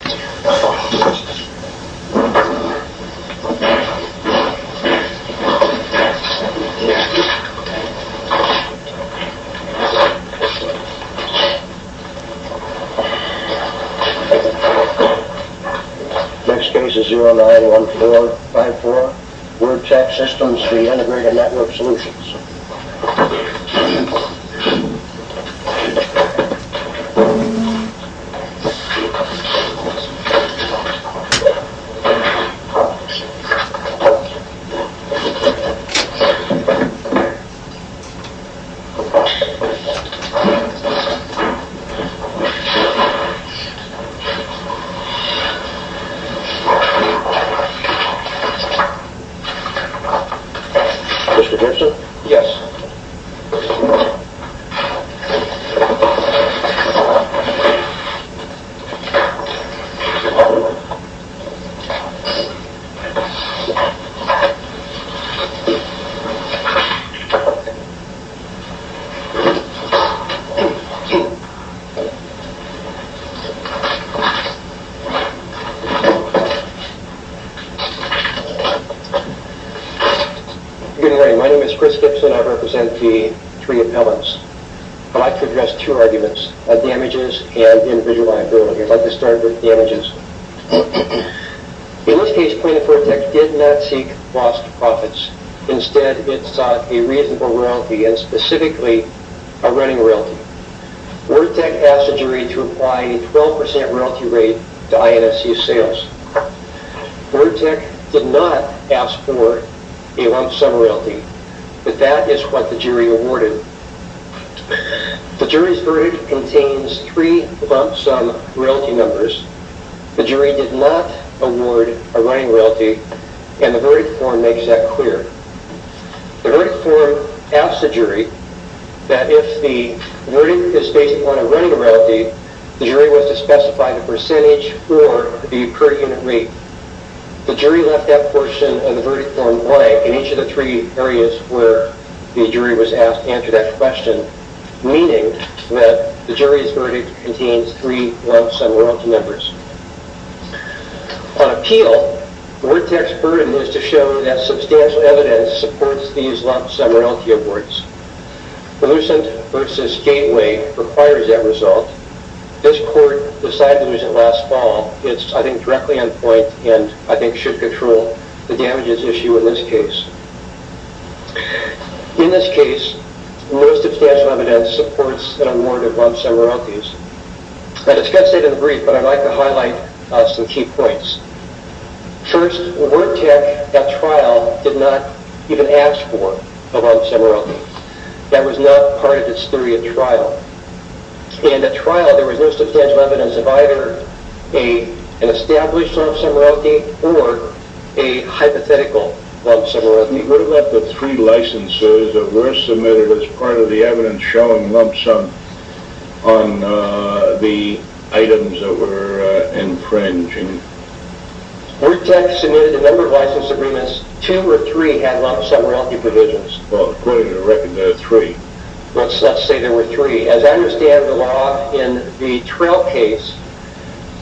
Next case is 091454. Wordtech Sys v. Integrated NTWRK Solutions. Mr. Gibson? Yes. Good morning. My name is Chris Gibson. I represent the three appellants. I'd like to address two arguments. Damages and invisible liability. I'd like to start with damages. In this case, Point of Wordtech did not seek lost profits. Instead, it sought a reasonable royalty and specifically a running royalty. Wordtech asked the jury to apply a 12% royalty rate to INFC's sales. Wordtech did not ask for a lump sum royalty, but that is what the jury awarded. The jury's verdict contains three lump sum royalty numbers. The jury did not award a running royalty, and the verdict form makes that clear. The verdict form asks the jury that if the verdict is based upon a running royalty, the jury was to specify the percentage or the per unit rate. The jury left that portion of the verdict form blank in each of the three areas where the jury was asked to answer that question, meaning that the jury's verdict contains three lump sum royalty numbers. On appeal, Wordtech's burden is to show that substantial evidence supports these lump sum royalty awards. The Lucent v. Gateway requires that result. This court decided to use it last fall. It's, I think, directly on point and I think should control the damages issue in this case. In this case, most substantial evidence supports an award of lump sum royalties. I discussed it in the brief, but I'd like to highlight some key points. First, Wordtech, that trial, did not even ask for a lump sum royalty. That was not part of its theory of trial. In the trial, there was no substantial evidence of either an established lump sum royalty or a hypothetical lump sum royalty. What about the three licenses that were submitted as part of the evidence showing lump sum on the items that were infringing? Wordtech submitted a number of license agreements. Two or three had lump sum royalty provisions. Well, according to the record, there were three. Let's say there were three. As I understand the law, in the trial case,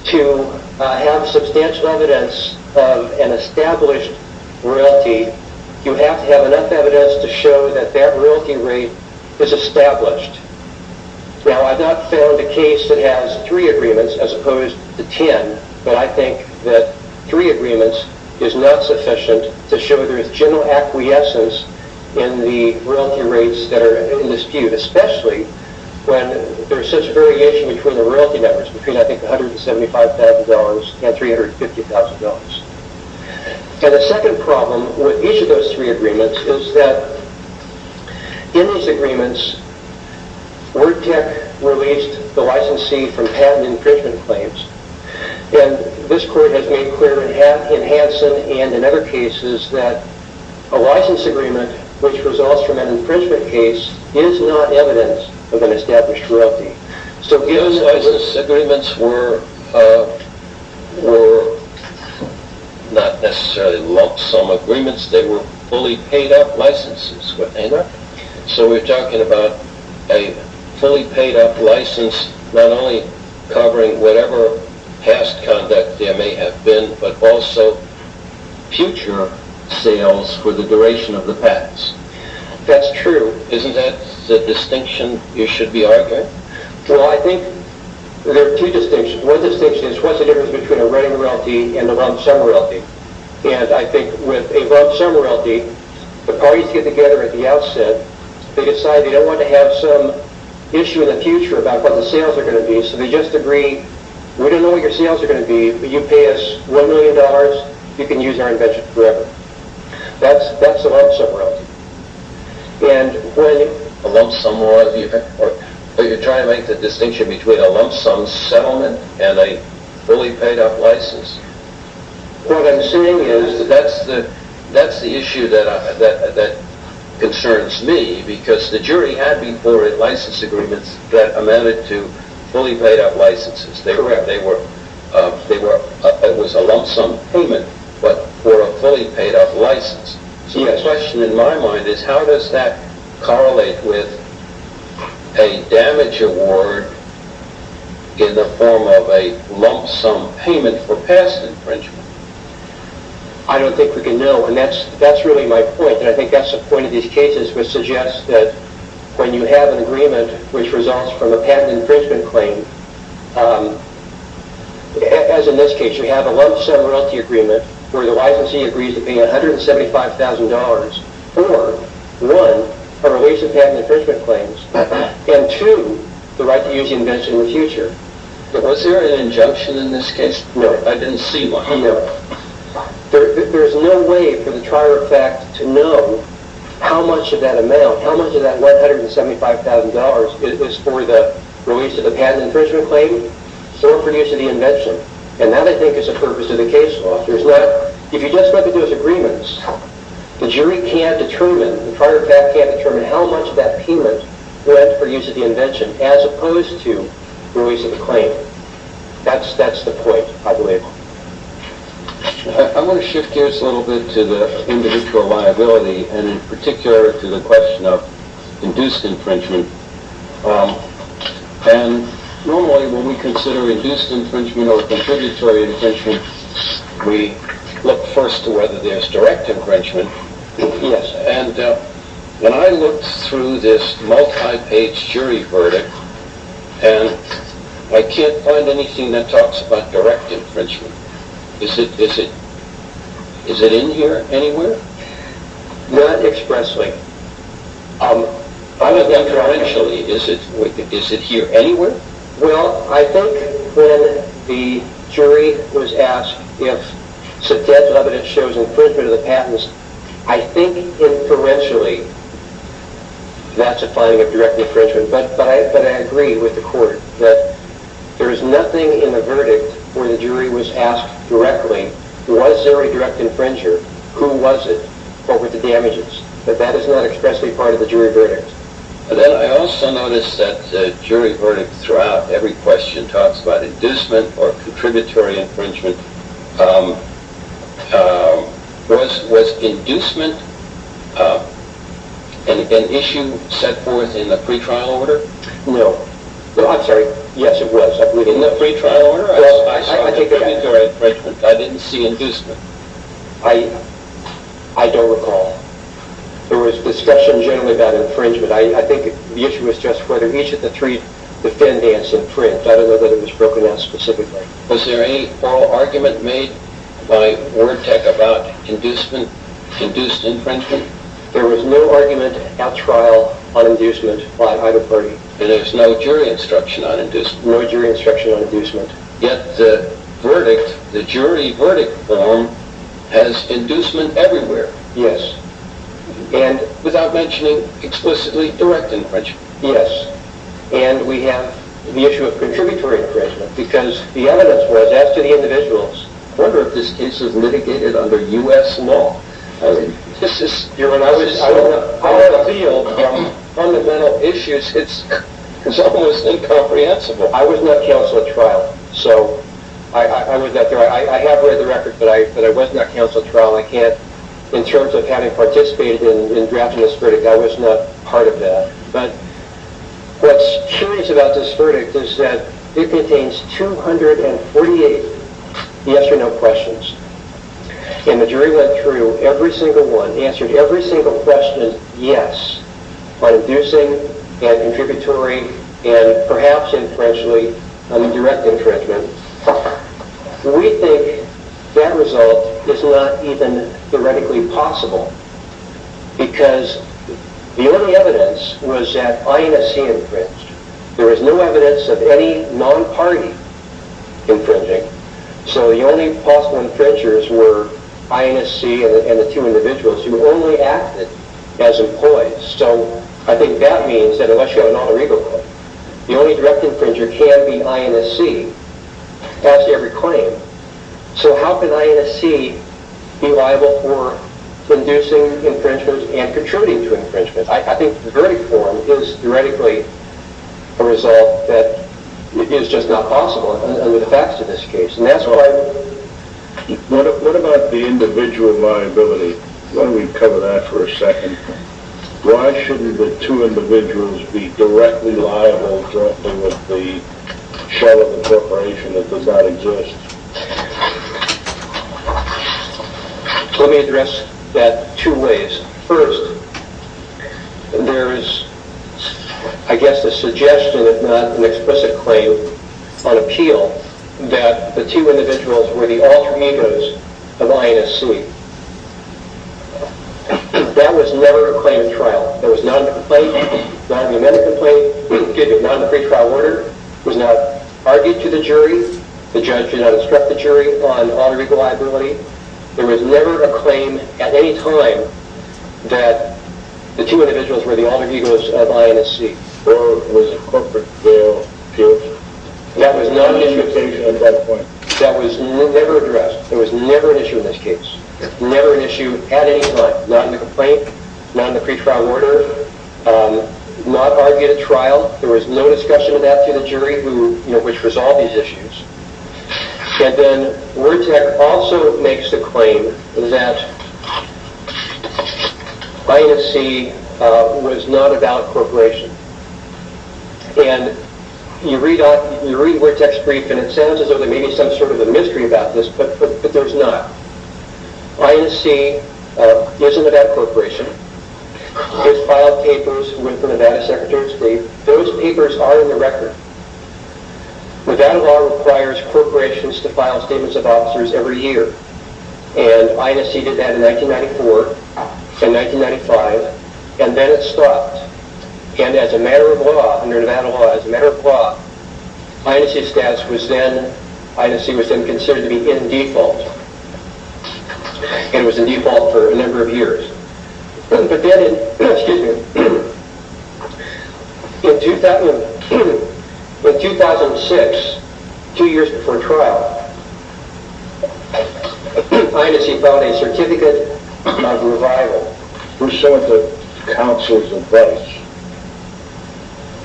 to have substantial evidence of an established royalty, you have to have enough evidence to show that that royalty rate is established. Now, I've not found a case that has three agreements as opposed to ten, but I think that three agreements is not sufficient to show there is general acquiescence in the royalty rates that are in dispute, especially when there is such a variation between the royalty numbers, between I think $175,000 and $350,000. The second problem with each of those three agreements is that in these agreements, Wordtech released the licensee from patent infringement claims. This court has made clear in Hanson and in other cases that a license agreement which results from an infringement case is not evidence of an established royalty. Those license agreements were not necessarily lump sum agreements. They were fully paid-up licenses. So we're talking about a fully paid-up license not only covering whatever past conduct there may have been but also future sales for the duration of the patents. That's true. Isn't that the distinction you should be arguing? Well, I think there are two distinctions. One distinction is what's the difference between a running royalty and a lump sum royalty, and I think with a lump sum royalty, the parties get together at the outset. They decide they don't want to have some issue in the future about what the sales are going to be, so they just agree, we don't know what your sales are going to be, but you pay us $1 million, you can use our invention forever. That's a lump sum royalty. But you're trying to make the distinction between a lump sum settlement and a fully paid-up license. What I'm saying is that's the issue that concerns me because the jury had before it license agreements that amended to fully paid-up licenses. It was a lump sum payment but for a fully paid-up license. So the question in my mind is how does that correlate with a damage award in the form of a lump sum payment for past infringement? I don't think we can know, and that's really my point, and I think that's the point of these cases, which suggests that when you have an agreement which results from a patent infringement claim, as in this case, you have a lump sum royalty agreement where the licensee agrees to pay $175,000 for one, a release of patent infringement claims, and two, the right to use the invention in the future. But was there an injunction in this case? No, I didn't see one. There's no way for the trier of fact to know how much of that amount, how much of that $175,000 is for the release of the patent infringement claim or for use of the invention, and that I think is the purpose of the case law. If you just look at those agreements, the jury can't determine, the trier of fact can't determine how much of that payment went for use of the invention as opposed to the release of the claim. That's the point, I believe. I want to shift gears a little bit to the individual liability, and in particular to the question of induced infringement. Normally when we consider induced infringement or contributory infringement, we look first to whether there's direct infringement. When I looked through this multi-page jury verdict, and I can't find anything that talks about direct infringement. Is it in here anywhere? Not expressly. I mean, is it here anywhere? Well, I think when the jury was asked if substantive evidence shows infringement of the patents, I think inferentially that's a finding of direct infringement. But I agree with the court that there is nothing in the verdict where the jury was asked directly, was there a direct infringer? Who was it? What were the damages? But that is not expressly part of the jury verdict. I also noticed that the jury verdict throughout every question talks about inducement or contributory infringement. Was inducement an issue set forth in the pre-trial order? No. Well, I'm sorry. Yes, it was. In the pre-trial order? Well, I saw the jury infringement. I didn't see inducement. I don't recall. There was discussion generally about infringement. I think the issue was just whether each of the three defendants in print. I don't know that it was broken down specifically. Was there any oral argument made by Word Tech about inducement, induced infringement? There was no argument at trial on inducement by either party. And there was no jury instruction on inducement? No jury instruction on inducement. Yet the verdict, the jury verdict form has inducement everywhere. Yes. And without mentioning explicitly direct infringement. Yes. And we have the issue of contributory infringement because the evidence was, as to the individuals, I wonder if this case is litigated under U.S. law. I don't know. I had a feel from fundamental issues. It's almost incomprehensible. I was not counsel at trial. I have read the records, but I was not counsel at trial. In terms of having participated in drafting this verdict, I was not part of that. But what's curious about this verdict is that it contains 248 yes or no questions. And the jury went through every single one, answered every single question yes on inducing and contributory and perhaps infringing on the direct infringement. We think that result is not even theoretically possible because the only evidence was that INSC infringed. There was no evidence of any non-party infringing. So the only possible infringers were INSC and the two individuals who only acted as employees. So I think that means that unless you have a non-regal claim, the only direct infringer can be INSC as to every claim. So how can INSC be liable for inducing infringement and contributing to infringement? I think the verdict form is theoretically a result that is just not possible under the facts of this case. And that's why... What about the individual liability? Why don't we cover that for a second? Why shouldn't the two individuals be directly liable directly with the shell of the corporation that does not exist? Let me address that two ways. First, there is I guess a suggestion if not an explicit claim on appeal that the two individuals were the alternators of INSC. That was never a claim in trial. There was non-complaint, non-memento complaint, non-pre-trial order. It was not argued to the jury. The judge did not instruct the jury on alter-legal liability. There was never a claim at any time that the two individuals were the alter-legals of INSC. Or was it a corporate bail appeal? That was not an issue at that point. That was never addressed. There was never an issue in this case. Never an issue at any time. Not in the complaint. Not in the pre-trial order. Not argued at trial. There was no discussion of that to the jury which resolved these issues. And then Wertech also makes the claim that INSC was not a valid corporation. And you read Wertech's brief and it sounds as though there may be some sort of a mystery about this, but there is not. INSC is a Nevada corporation. It has filed papers with the Nevada Secretary of State. Those papers are in the record. Nevada law requires corporations to file statements of officers every year. And INSC did that in 1994 and 1995 and then it stopped. And as a matter of law, under Nevada law, as a matter of law, INSC was then considered to be in default. And it was in default for a number of years. But then in 2006, two years before trial, INSC filed a certificate of revival. Were some of the counsels in Wertech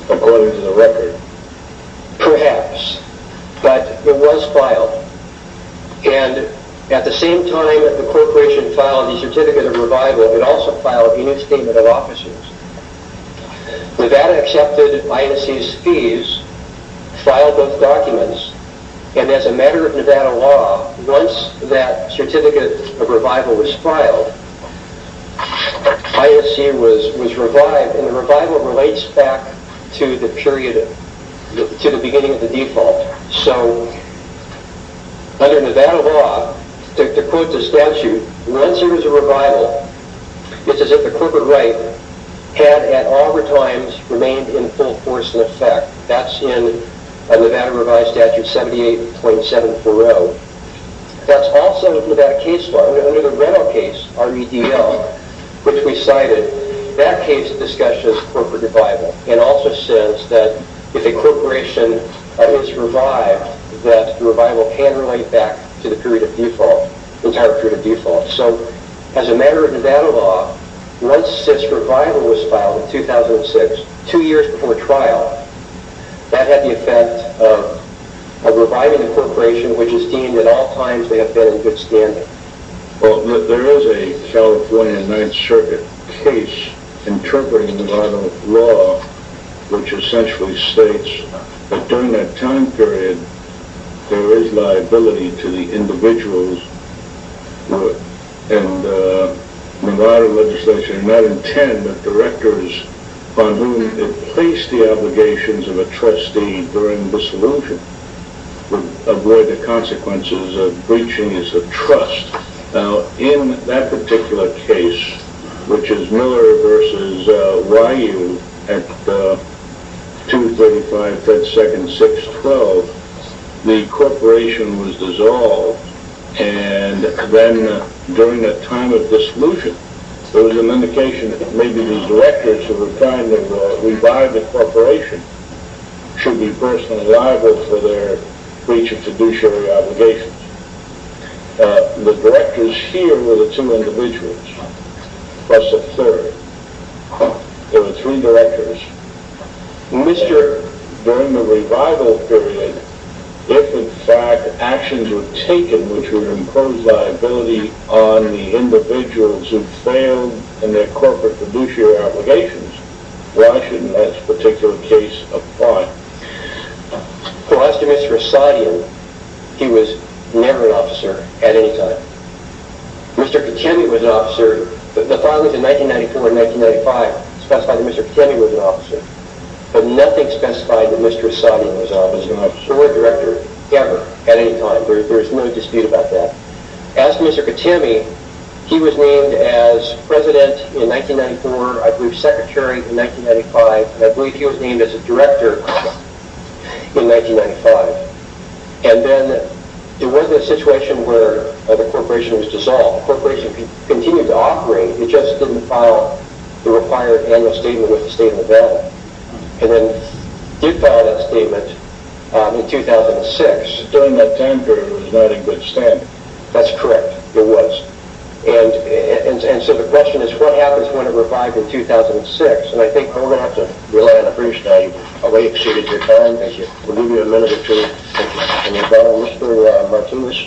according to the record? Perhaps, but it was filed. And at the same time that the corporation filed the certificate of revival, it also filed a new statement of officers. Nevada accepted INSC's fees, filed those documents, and as a matter of Nevada law, once that certificate of revival was filed, INSC was revived. And the revival relates back to the period, to the beginning of the default. So, under Nevada law, to quote the statute, once there was a revival, it's as if the corporate right had at all times remained in full force and effect. That's in Nevada Revised Statute 78.740. That's also in the Nevada case law. Under the rental case, REDL, which we cited, that case discusses corporate revival, and also says that if a corporation is revived, that the revival can relate back to the period of default, the entire period of default. So, as a matter of Nevada law, once this revival was filed in 2006, two years before trial, that had the effect of reviving the corporation, which is deemed at all times they have been in good standing. Well, there is a California Ninth Circuit case interpreting Nevada law, which essentially states that during that time period, there is liability to the individuals in Nevada legislation. Directors on whom it placed the obligations of a trustee during dissolution would avoid the consequences of breaching his trust. Now, in that particular case, which is Miller v. Waiyu at 235 FedSec 612, the corporation was dissolved, and then during that time of dissolution, there was an indication that maybe the directors who were trying to revive the corporation should be personally liable for their breach of fiduciary obligations. The directors here were the two individuals, plus a third. There were three directors. During the revival period, if in fact actions were taken which would impose liability on the individuals who failed in their corporate fiduciary obligations, why shouldn't that particular case apply? Well, as to Mr. Esadian, he was never an officer at any time. Mr. Katemi was an officer. The filings in 1994 and 1995 specify that Mr. Katemi was an officer, but nothing specified that Mr. Esadian was an officer or a director ever at any time. There is no dispute about that. As to Mr. Katemi, he was named as president in 1994, I believe secretary in 1995, and I believe he was named as a director in 1995, and then there wasn't a situation where the corporation was dissolved. The corporation continued to operate, it just didn't file the required annual statement with the state of Nevada, and then did file that statement in 2006. So during that time period it was not a good stamp. That's correct, it was. And so the question is what happens when it revived in 2006, and I think we're going to have to rely on a brief study. I'll wait to see if there's time. Thank you. We'll give you a minute or two. Thank you. Can you follow Mr. Martinez?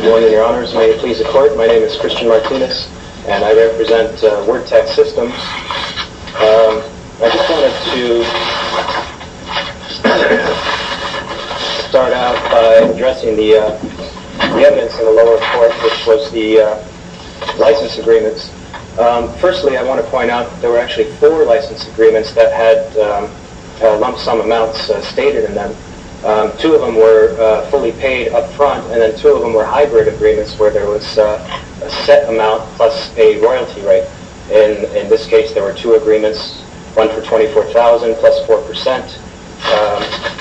Good morning, your honors. May it please the court. My name is Christian Martinez, and I represent Word Tech Systems. I just wanted to start out by addressing the evidence in the lower court, which was the license agreements. Firstly, I want to point out there were actually four license agreements that had lump sum amounts stated in them. Two of them were fully paid up front, and then two of them were hybrid agreements where there was a set amount plus a royalty rate. In this case, there were two agreements, one for $24,000 plus 4%,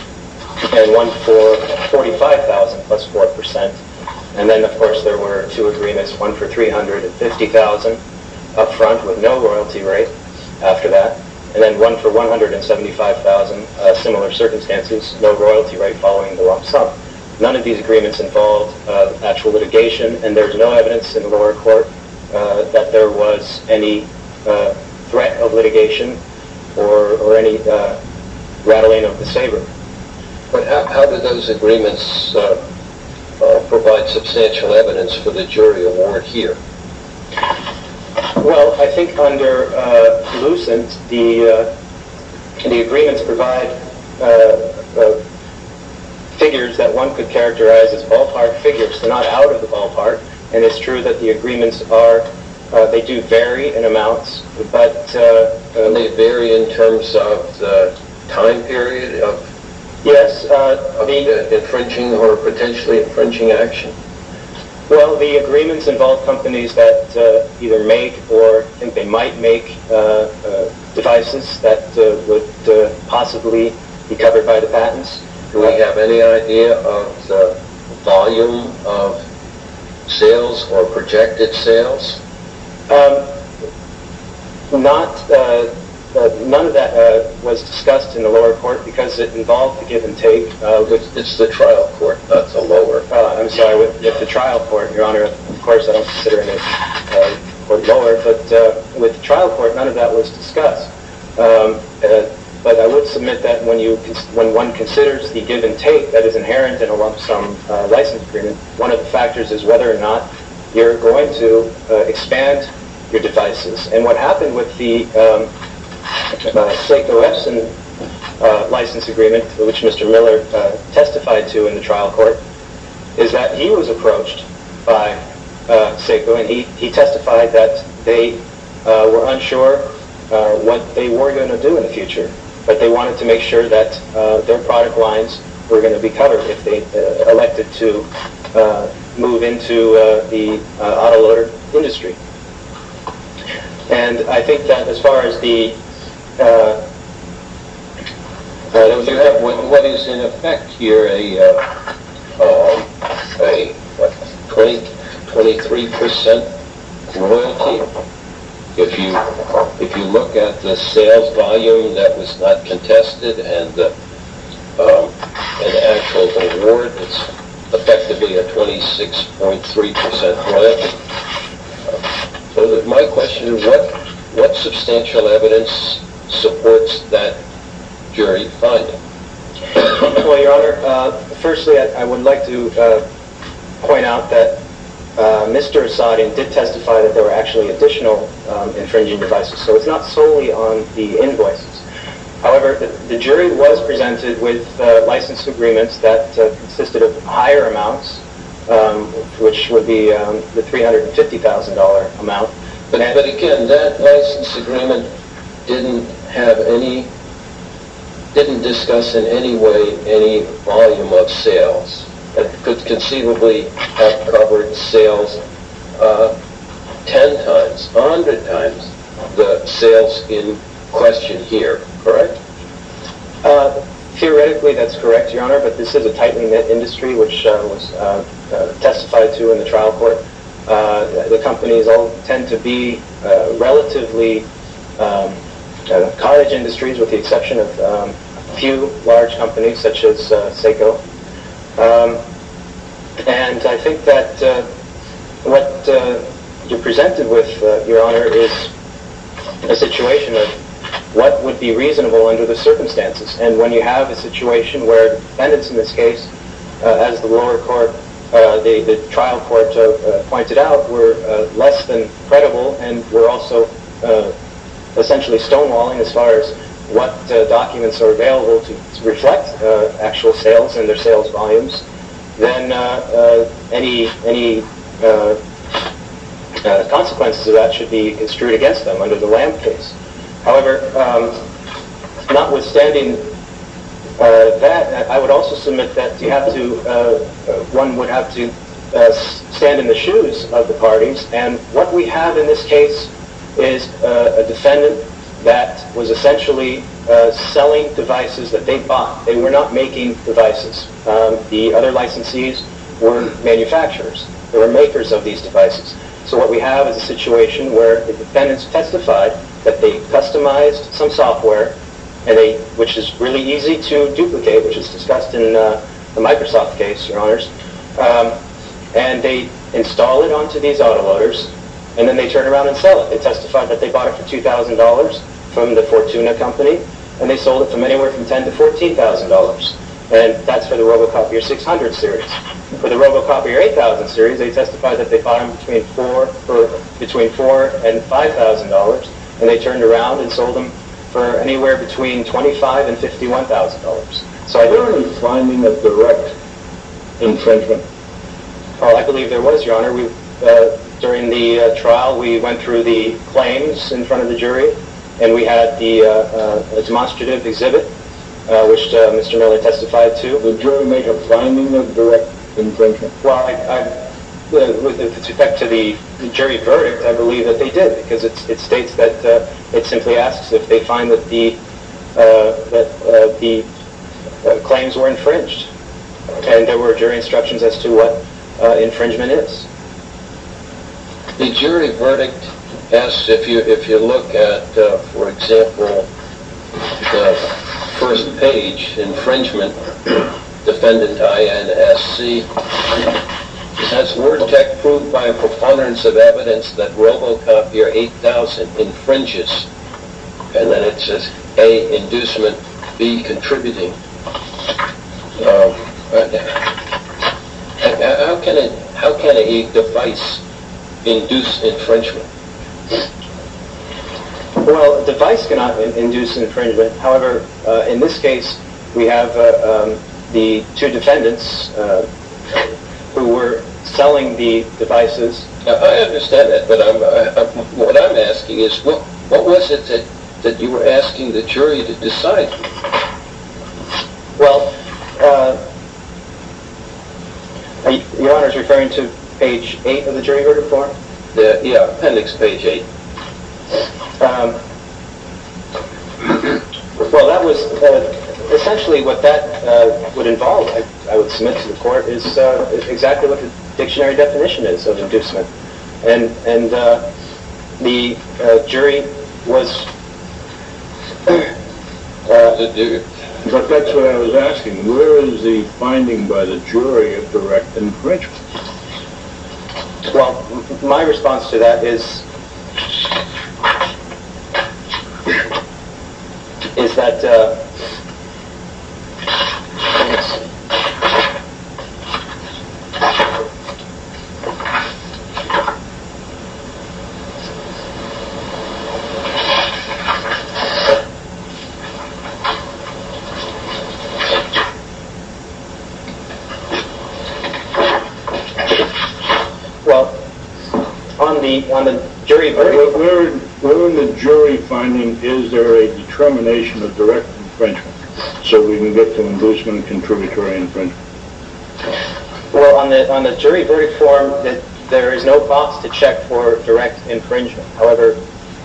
and one for $45,000 plus 4%. And then, of course, there were two agreements, one for $350,000 up front with no royalty rate after that, and then one for $175,000, similar circumstances, no royalty rate following the lump sum. None of these agreements involved actual litigation, and there's no evidence in the lower court that there was any threat of litigation or any rattling of the saber. But how did those agreements provide substantial evidence for the jury award here? Well, I think under Lucent, the agreements provide figures that one could characterize as ballpark figures. They're not out of the ballpark, and it's true that the agreements do vary in amounts. And they vary in terms of the time period of the infringing or potentially infringing action? Well, the agreements involve companies that either make or they might make devices that would possibly be covered by the patents. Do we have any idea of the volume of sales or projected sales? None of that was discussed in the lower court because it involved the give and take. It's the trial court that's a lower court. I'm sorry, it's the trial court, Your Honor. Of course, I don't consider it a lower court, but with the trial court, none of that was discussed. But I would submit that when one considers the give and take that is inherent in a lump sum license agreement, one of the factors is whether or not you're going to expand your devices. And what happened with the Flake-O-Epson license agreement, which Mr. Miller testified to in the trial court, is that he was approached by Cisco, and he testified that they were unsure what they were going to do in the future, but they wanted to make sure that their product lines were going to be covered if they elected to move into the auto loader industry. And I think that as far as the... What is in effect here, a 23% loyalty? If you look at the sales volume, that was not contested, and the actual award, it's effectively a 26.3% loyalty. My question is, what substantial evidence supports that jury finding? Well, Your Honor, firstly, I would like to point out that Mr. Asadi did testify that there were actually additional infringing devices, so it's not solely on the invoices. However, the jury was presented with license agreements that consisted of higher amounts, which would be the $350,000 amount. But again, that license agreement didn't have any... didn't discuss in any way any volume of sales that could conceivably have covered sales 10 times, 100 times the sales in question here, correct? Theoretically, that's correct, Your Honor, but this is a tightly knit industry, which was testified to in the trial court. The companies all tend to be relatively cottage industries with the exception of a few large companies, such as Seiko. And I think that what you presented with, Your Honor, is a situation of what would be reasonable under the circumstances. And when you have a situation where defendants in this case, as the lower court, the trial court pointed out, were less than credible and were also essentially stonewalling as far as what documents are available to reflect actual sales and their sales volumes, then any consequences of that should be construed against them under the Lam case. However, notwithstanding that, I would also submit that one would have to stand in the shoes of the parties. And what we have in this case is a defendant that was essentially selling devices that they bought. They were not making devices. The other licensees were manufacturers. They were makers of these devices. So what we have is a situation where the defendants testified that they customized some software, which is really easy to duplicate, which is discussed in the Microsoft case, Your Honors, and they install it onto these autoloaders and then they turn around and sell it. They testified that they bought it for $2,000 from the Fortuna company and they sold it for anywhere from $10,000 to $14,000. And that's for the Robocopier 600 series. For the Robocopier 8000 series, they testified that they bought them for between $4,000 and $5,000 and they turned around and sold them for anywhere between $25,000 and $51,000. Were there any findings of direct infringement? I believe there was, Your Honor. During the trial, we went through the claims in front of the jury and we had a demonstrative exhibit, which Mr. Miller testified to. Did the jury make a finding of direct infringement? Well, with respect to the jury verdict, I believe that they did because it states that it simply asks if they find that the claims were infringed and there were jury instructions as to what infringement is. The jury verdict asks if you look at, for example, the first page, infringement, defendant INSC, has WordTech proved by a preponderance of evidence that Robocopier 8000 infringes? And then it says, A, inducement, B, contributing. How can a device induce infringement? Well, a device cannot induce infringement. However, in this case, we have the two defendants who were selling the devices. I understand that, but what I'm asking is, what was it that you were asking the jury to decide? Well, Your Honor is referring to page 8 of the jury verdict form? Yeah, appendix page 8. Well, essentially what that would involve, I would submit to the court, is exactly what the dictionary definition is of inducement. But that's what I was asking. Where is the finding by the jury of direct infringement? Well, my response to that is, is that, Well, on the jury verdict form, Well, on the jury verdict form, there is no box to check for direct infringement. However,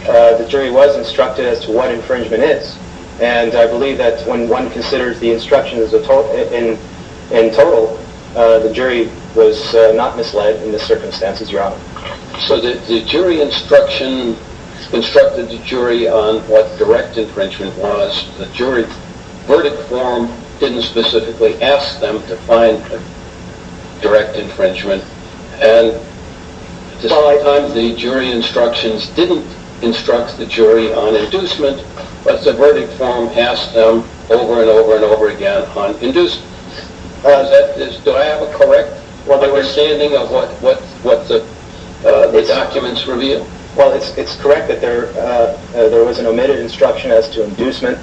the jury was instructed as to what infringement is, and I believe that when one considers the instructions in total, the jury was not misled in the circumstances, Your Honor. So the jury instruction instructed the jury on what direct infringement was. The jury verdict form didn't specifically ask them to find direct infringement, and at the same time, the jury instructions didn't instruct the jury on inducement, but the verdict form asked them over and over and over again on inducement. Do I have a correct understanding of what the documents reveal? Well, it's correct that there was an omitted instruction as to inducement,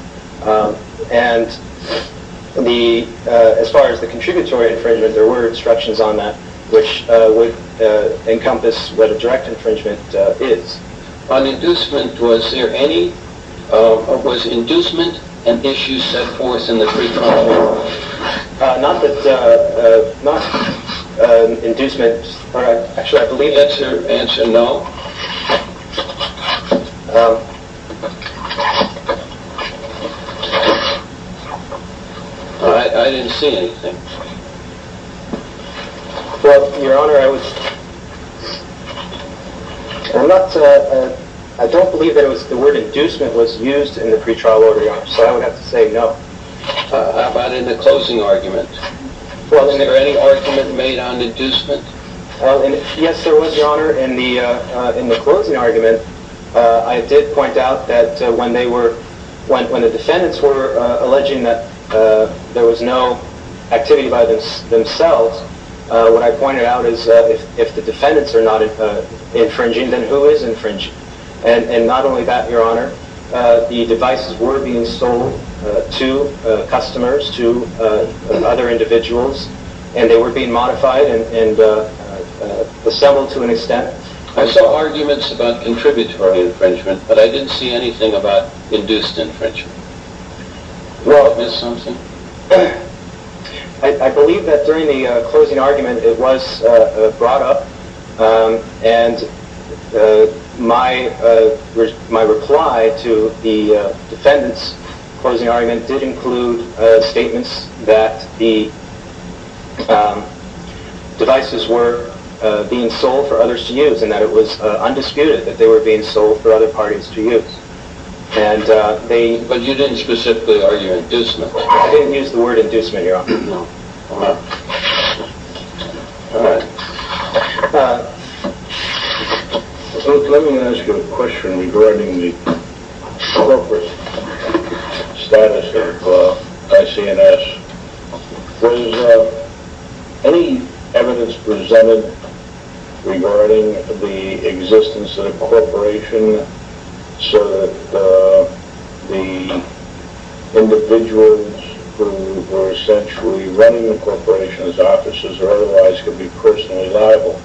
and as far as the contributory infringement, there were instructions on that, which would encompass what a direct infringement is. On inducement, was there any, Was inducement an issue set forth in the pre-trial report? Not that, not inducement, actually I believe that's your answer, no. I didn't see anything. Well, Your Honor, I was, I don't believe the word inducement was used in the pre-trial order, Your Honor, so I would have to say no. How about in the closing argument? Was there any argument made on inducement? Yes, there was, Your Honor. In the closing argument, I did point out that when they were, when the defendants were alleging that there was no activity by themselves, what I pointed out is that if the defendants are not infringing, then who is infringing? And not only that, Your Honor, the devices were being sold to customers, to other individuals, and they were being modified and assembled to an extent. I saw arguments about contributory infringement, but I didn't see anything about induced infringement. Did I miss something? I believe that during the closing argument it was brought up and my reply to the defendants' closing argument did include statements that the devices were being sold for others to use and that it was undisputed that they were being sold for other parties to use. But you didn't specifically argue inducement? I didn't use the word inducement, Your Honor. Let me ask you a question regarding the corporate status of IC&S. Was any evidence presented regarding the existence of the corporation so that the individuals who were essentially running the corporation as officers or otherwise could be personally liable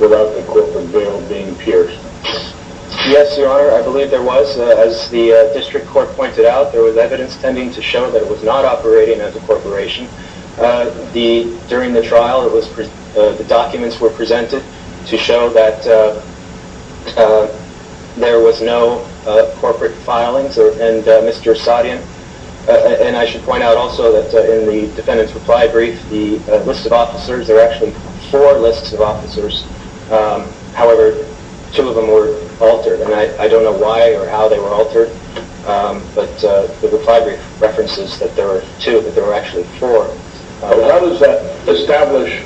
without the corporate bail being pierced? Yes, Your Honor, I believe there was. As the district court pointed out, there was evidence tending to show that it was not operating as a corporation. During the trial, the documents were presented to show that there was no corporate filings, and Mr. Asadian, and I should point out also that in the defendant's reply brief, the list of officers, there were actually four lists of officers. However, two of them were altered, and I don't know why or how they were altered, but the reply brief references that there were two, but there were actually four. How does that establish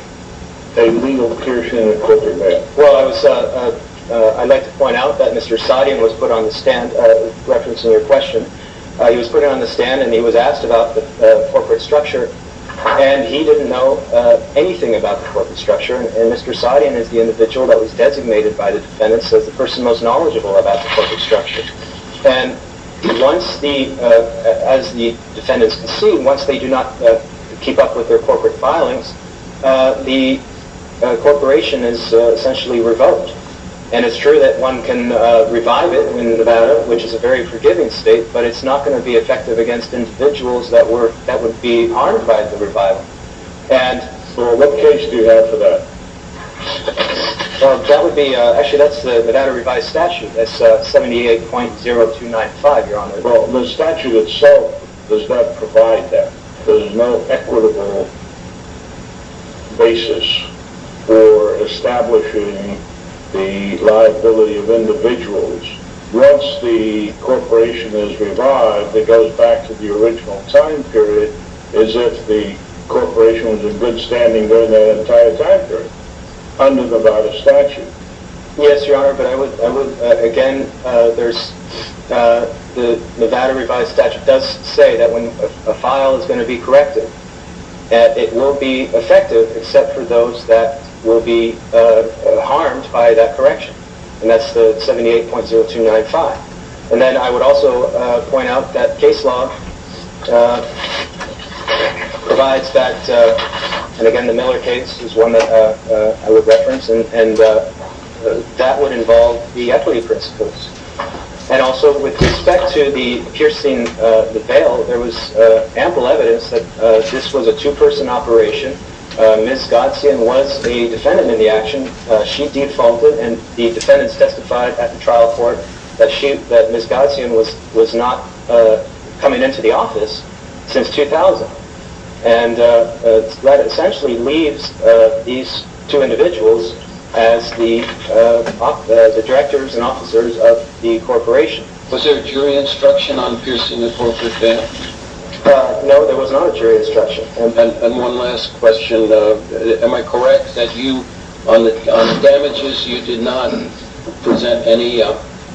a legal piercing of corporate bail? Well, I'd like to point out that Mr. Asadian was put on the stand, referencing your question, he was put on the stand, and he was asked about the corporate structure, and he didn't know anything about the corporate structure, and Mr. Asadian is the individual that was designated by the defendants as the person most knowledgeable about the corporate structure. And as the defendants can see, once they do not keep up with their corporate filings, the corporation is essentially revoked. And it's true that one can revive it in Nevada, which is a very forgiving state, but it's not going to be effective against individuals that would be harmed by the revival. So what case do you have for that? Actually, that's the Nevada revised statute, that's 78.0295, Your Honor. Well, the statute itself does not provide that. There's no equitable basis for establishing the liability of individuals. Once the corporation is revived, it goes back to the original time period as if the corporation was in good standing during that entire time period under Nevada statute. Yes, Your Honor, but again, the Nevada revised statute does say that when a file is going to be corrected, that it will be effective except for those that will be harmed by that correction, and that's the 78.0295. And then I would also point out that case law provides that, and again, the Miller case is one that I would reference, and that would involve the equity principles. And also with respect to the piercing the bail, there was ample evidence that this was a two-person operation. Ms. Godseyan was the defendant in the action. She defaulted, and the defendants testified at the trial court that Ms. Godseyan was not coming into the office since 2000. And that essentially leaves these two individuals as the directors and officers of the corporation. Was there a jury instruction on piercing the corporate bail? No, there was not a jury instruction. And one last question. Am I correct that you, on the damages, you did not present any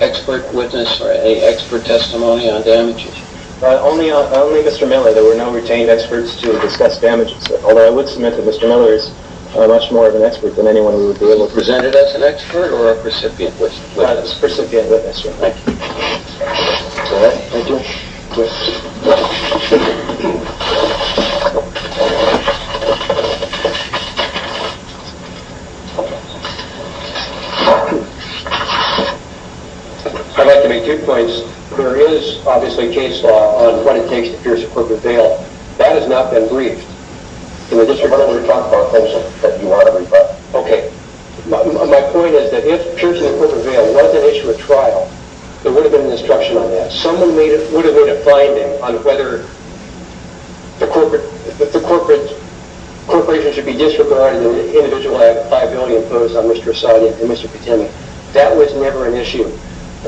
expert witness or any expert testimony on damages? Only Mr. Miller. There were no retained experts to discuss damages, although I would submit that Mr. Miller is much more of an expert than anyone we would be able to present it as an expert or a recipient witness. Thank you. I'd like to make two points. There is obviously case law on what it takes to pierce a corporate bail. That has not been briefed. In the district court, we talked about that. Okay. My point is that if piercing the corporate bail was an issue at trial, there would have been an instruction on that. Someone would have made a finding on whether the corporation should be disregarded in the individual liability imposed on Mr. Esadi and Mr. Pitini.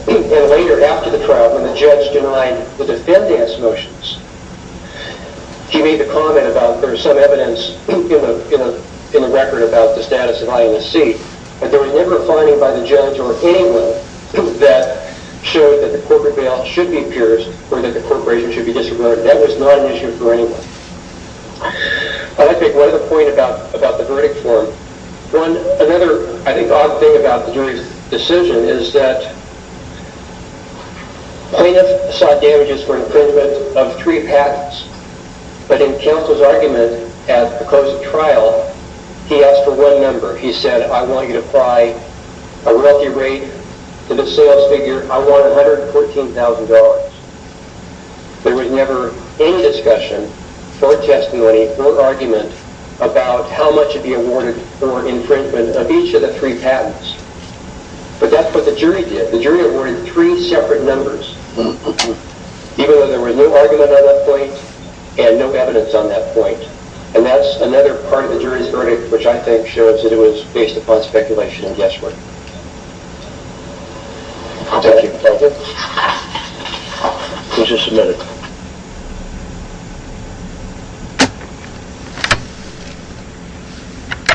And later, after the trial, when the judge denied the defendant's motions, he made the comment about there's some evidence in the record about the status of INSC, but there was never a finding by the judge or anyone that showed that the corporate bail should be pierced or that the corporation should be disregarded. That was not an issue for anyone. I'd like to make one other point about the verdict form. One other, I think, odd thing about the jury's decision is that plaintiff sought damages for infringement of three patents, but in counsel's argument at the close of trial, he asked for one number. He said, I want you to apply a wealthy rate to the sales figure. I want $114,000. There was never any discussion or testimony or argument about how much should be awarded for infringement of each of the three patents. But that's what the jury did. The jury awarded three separate numbers, even though there was no argument on that point and no evidence on that point. And that's another part of the jury's verdict, which I think shows that it was based upon speculation and guesswork. Thank you. Thank you. The case is submitted.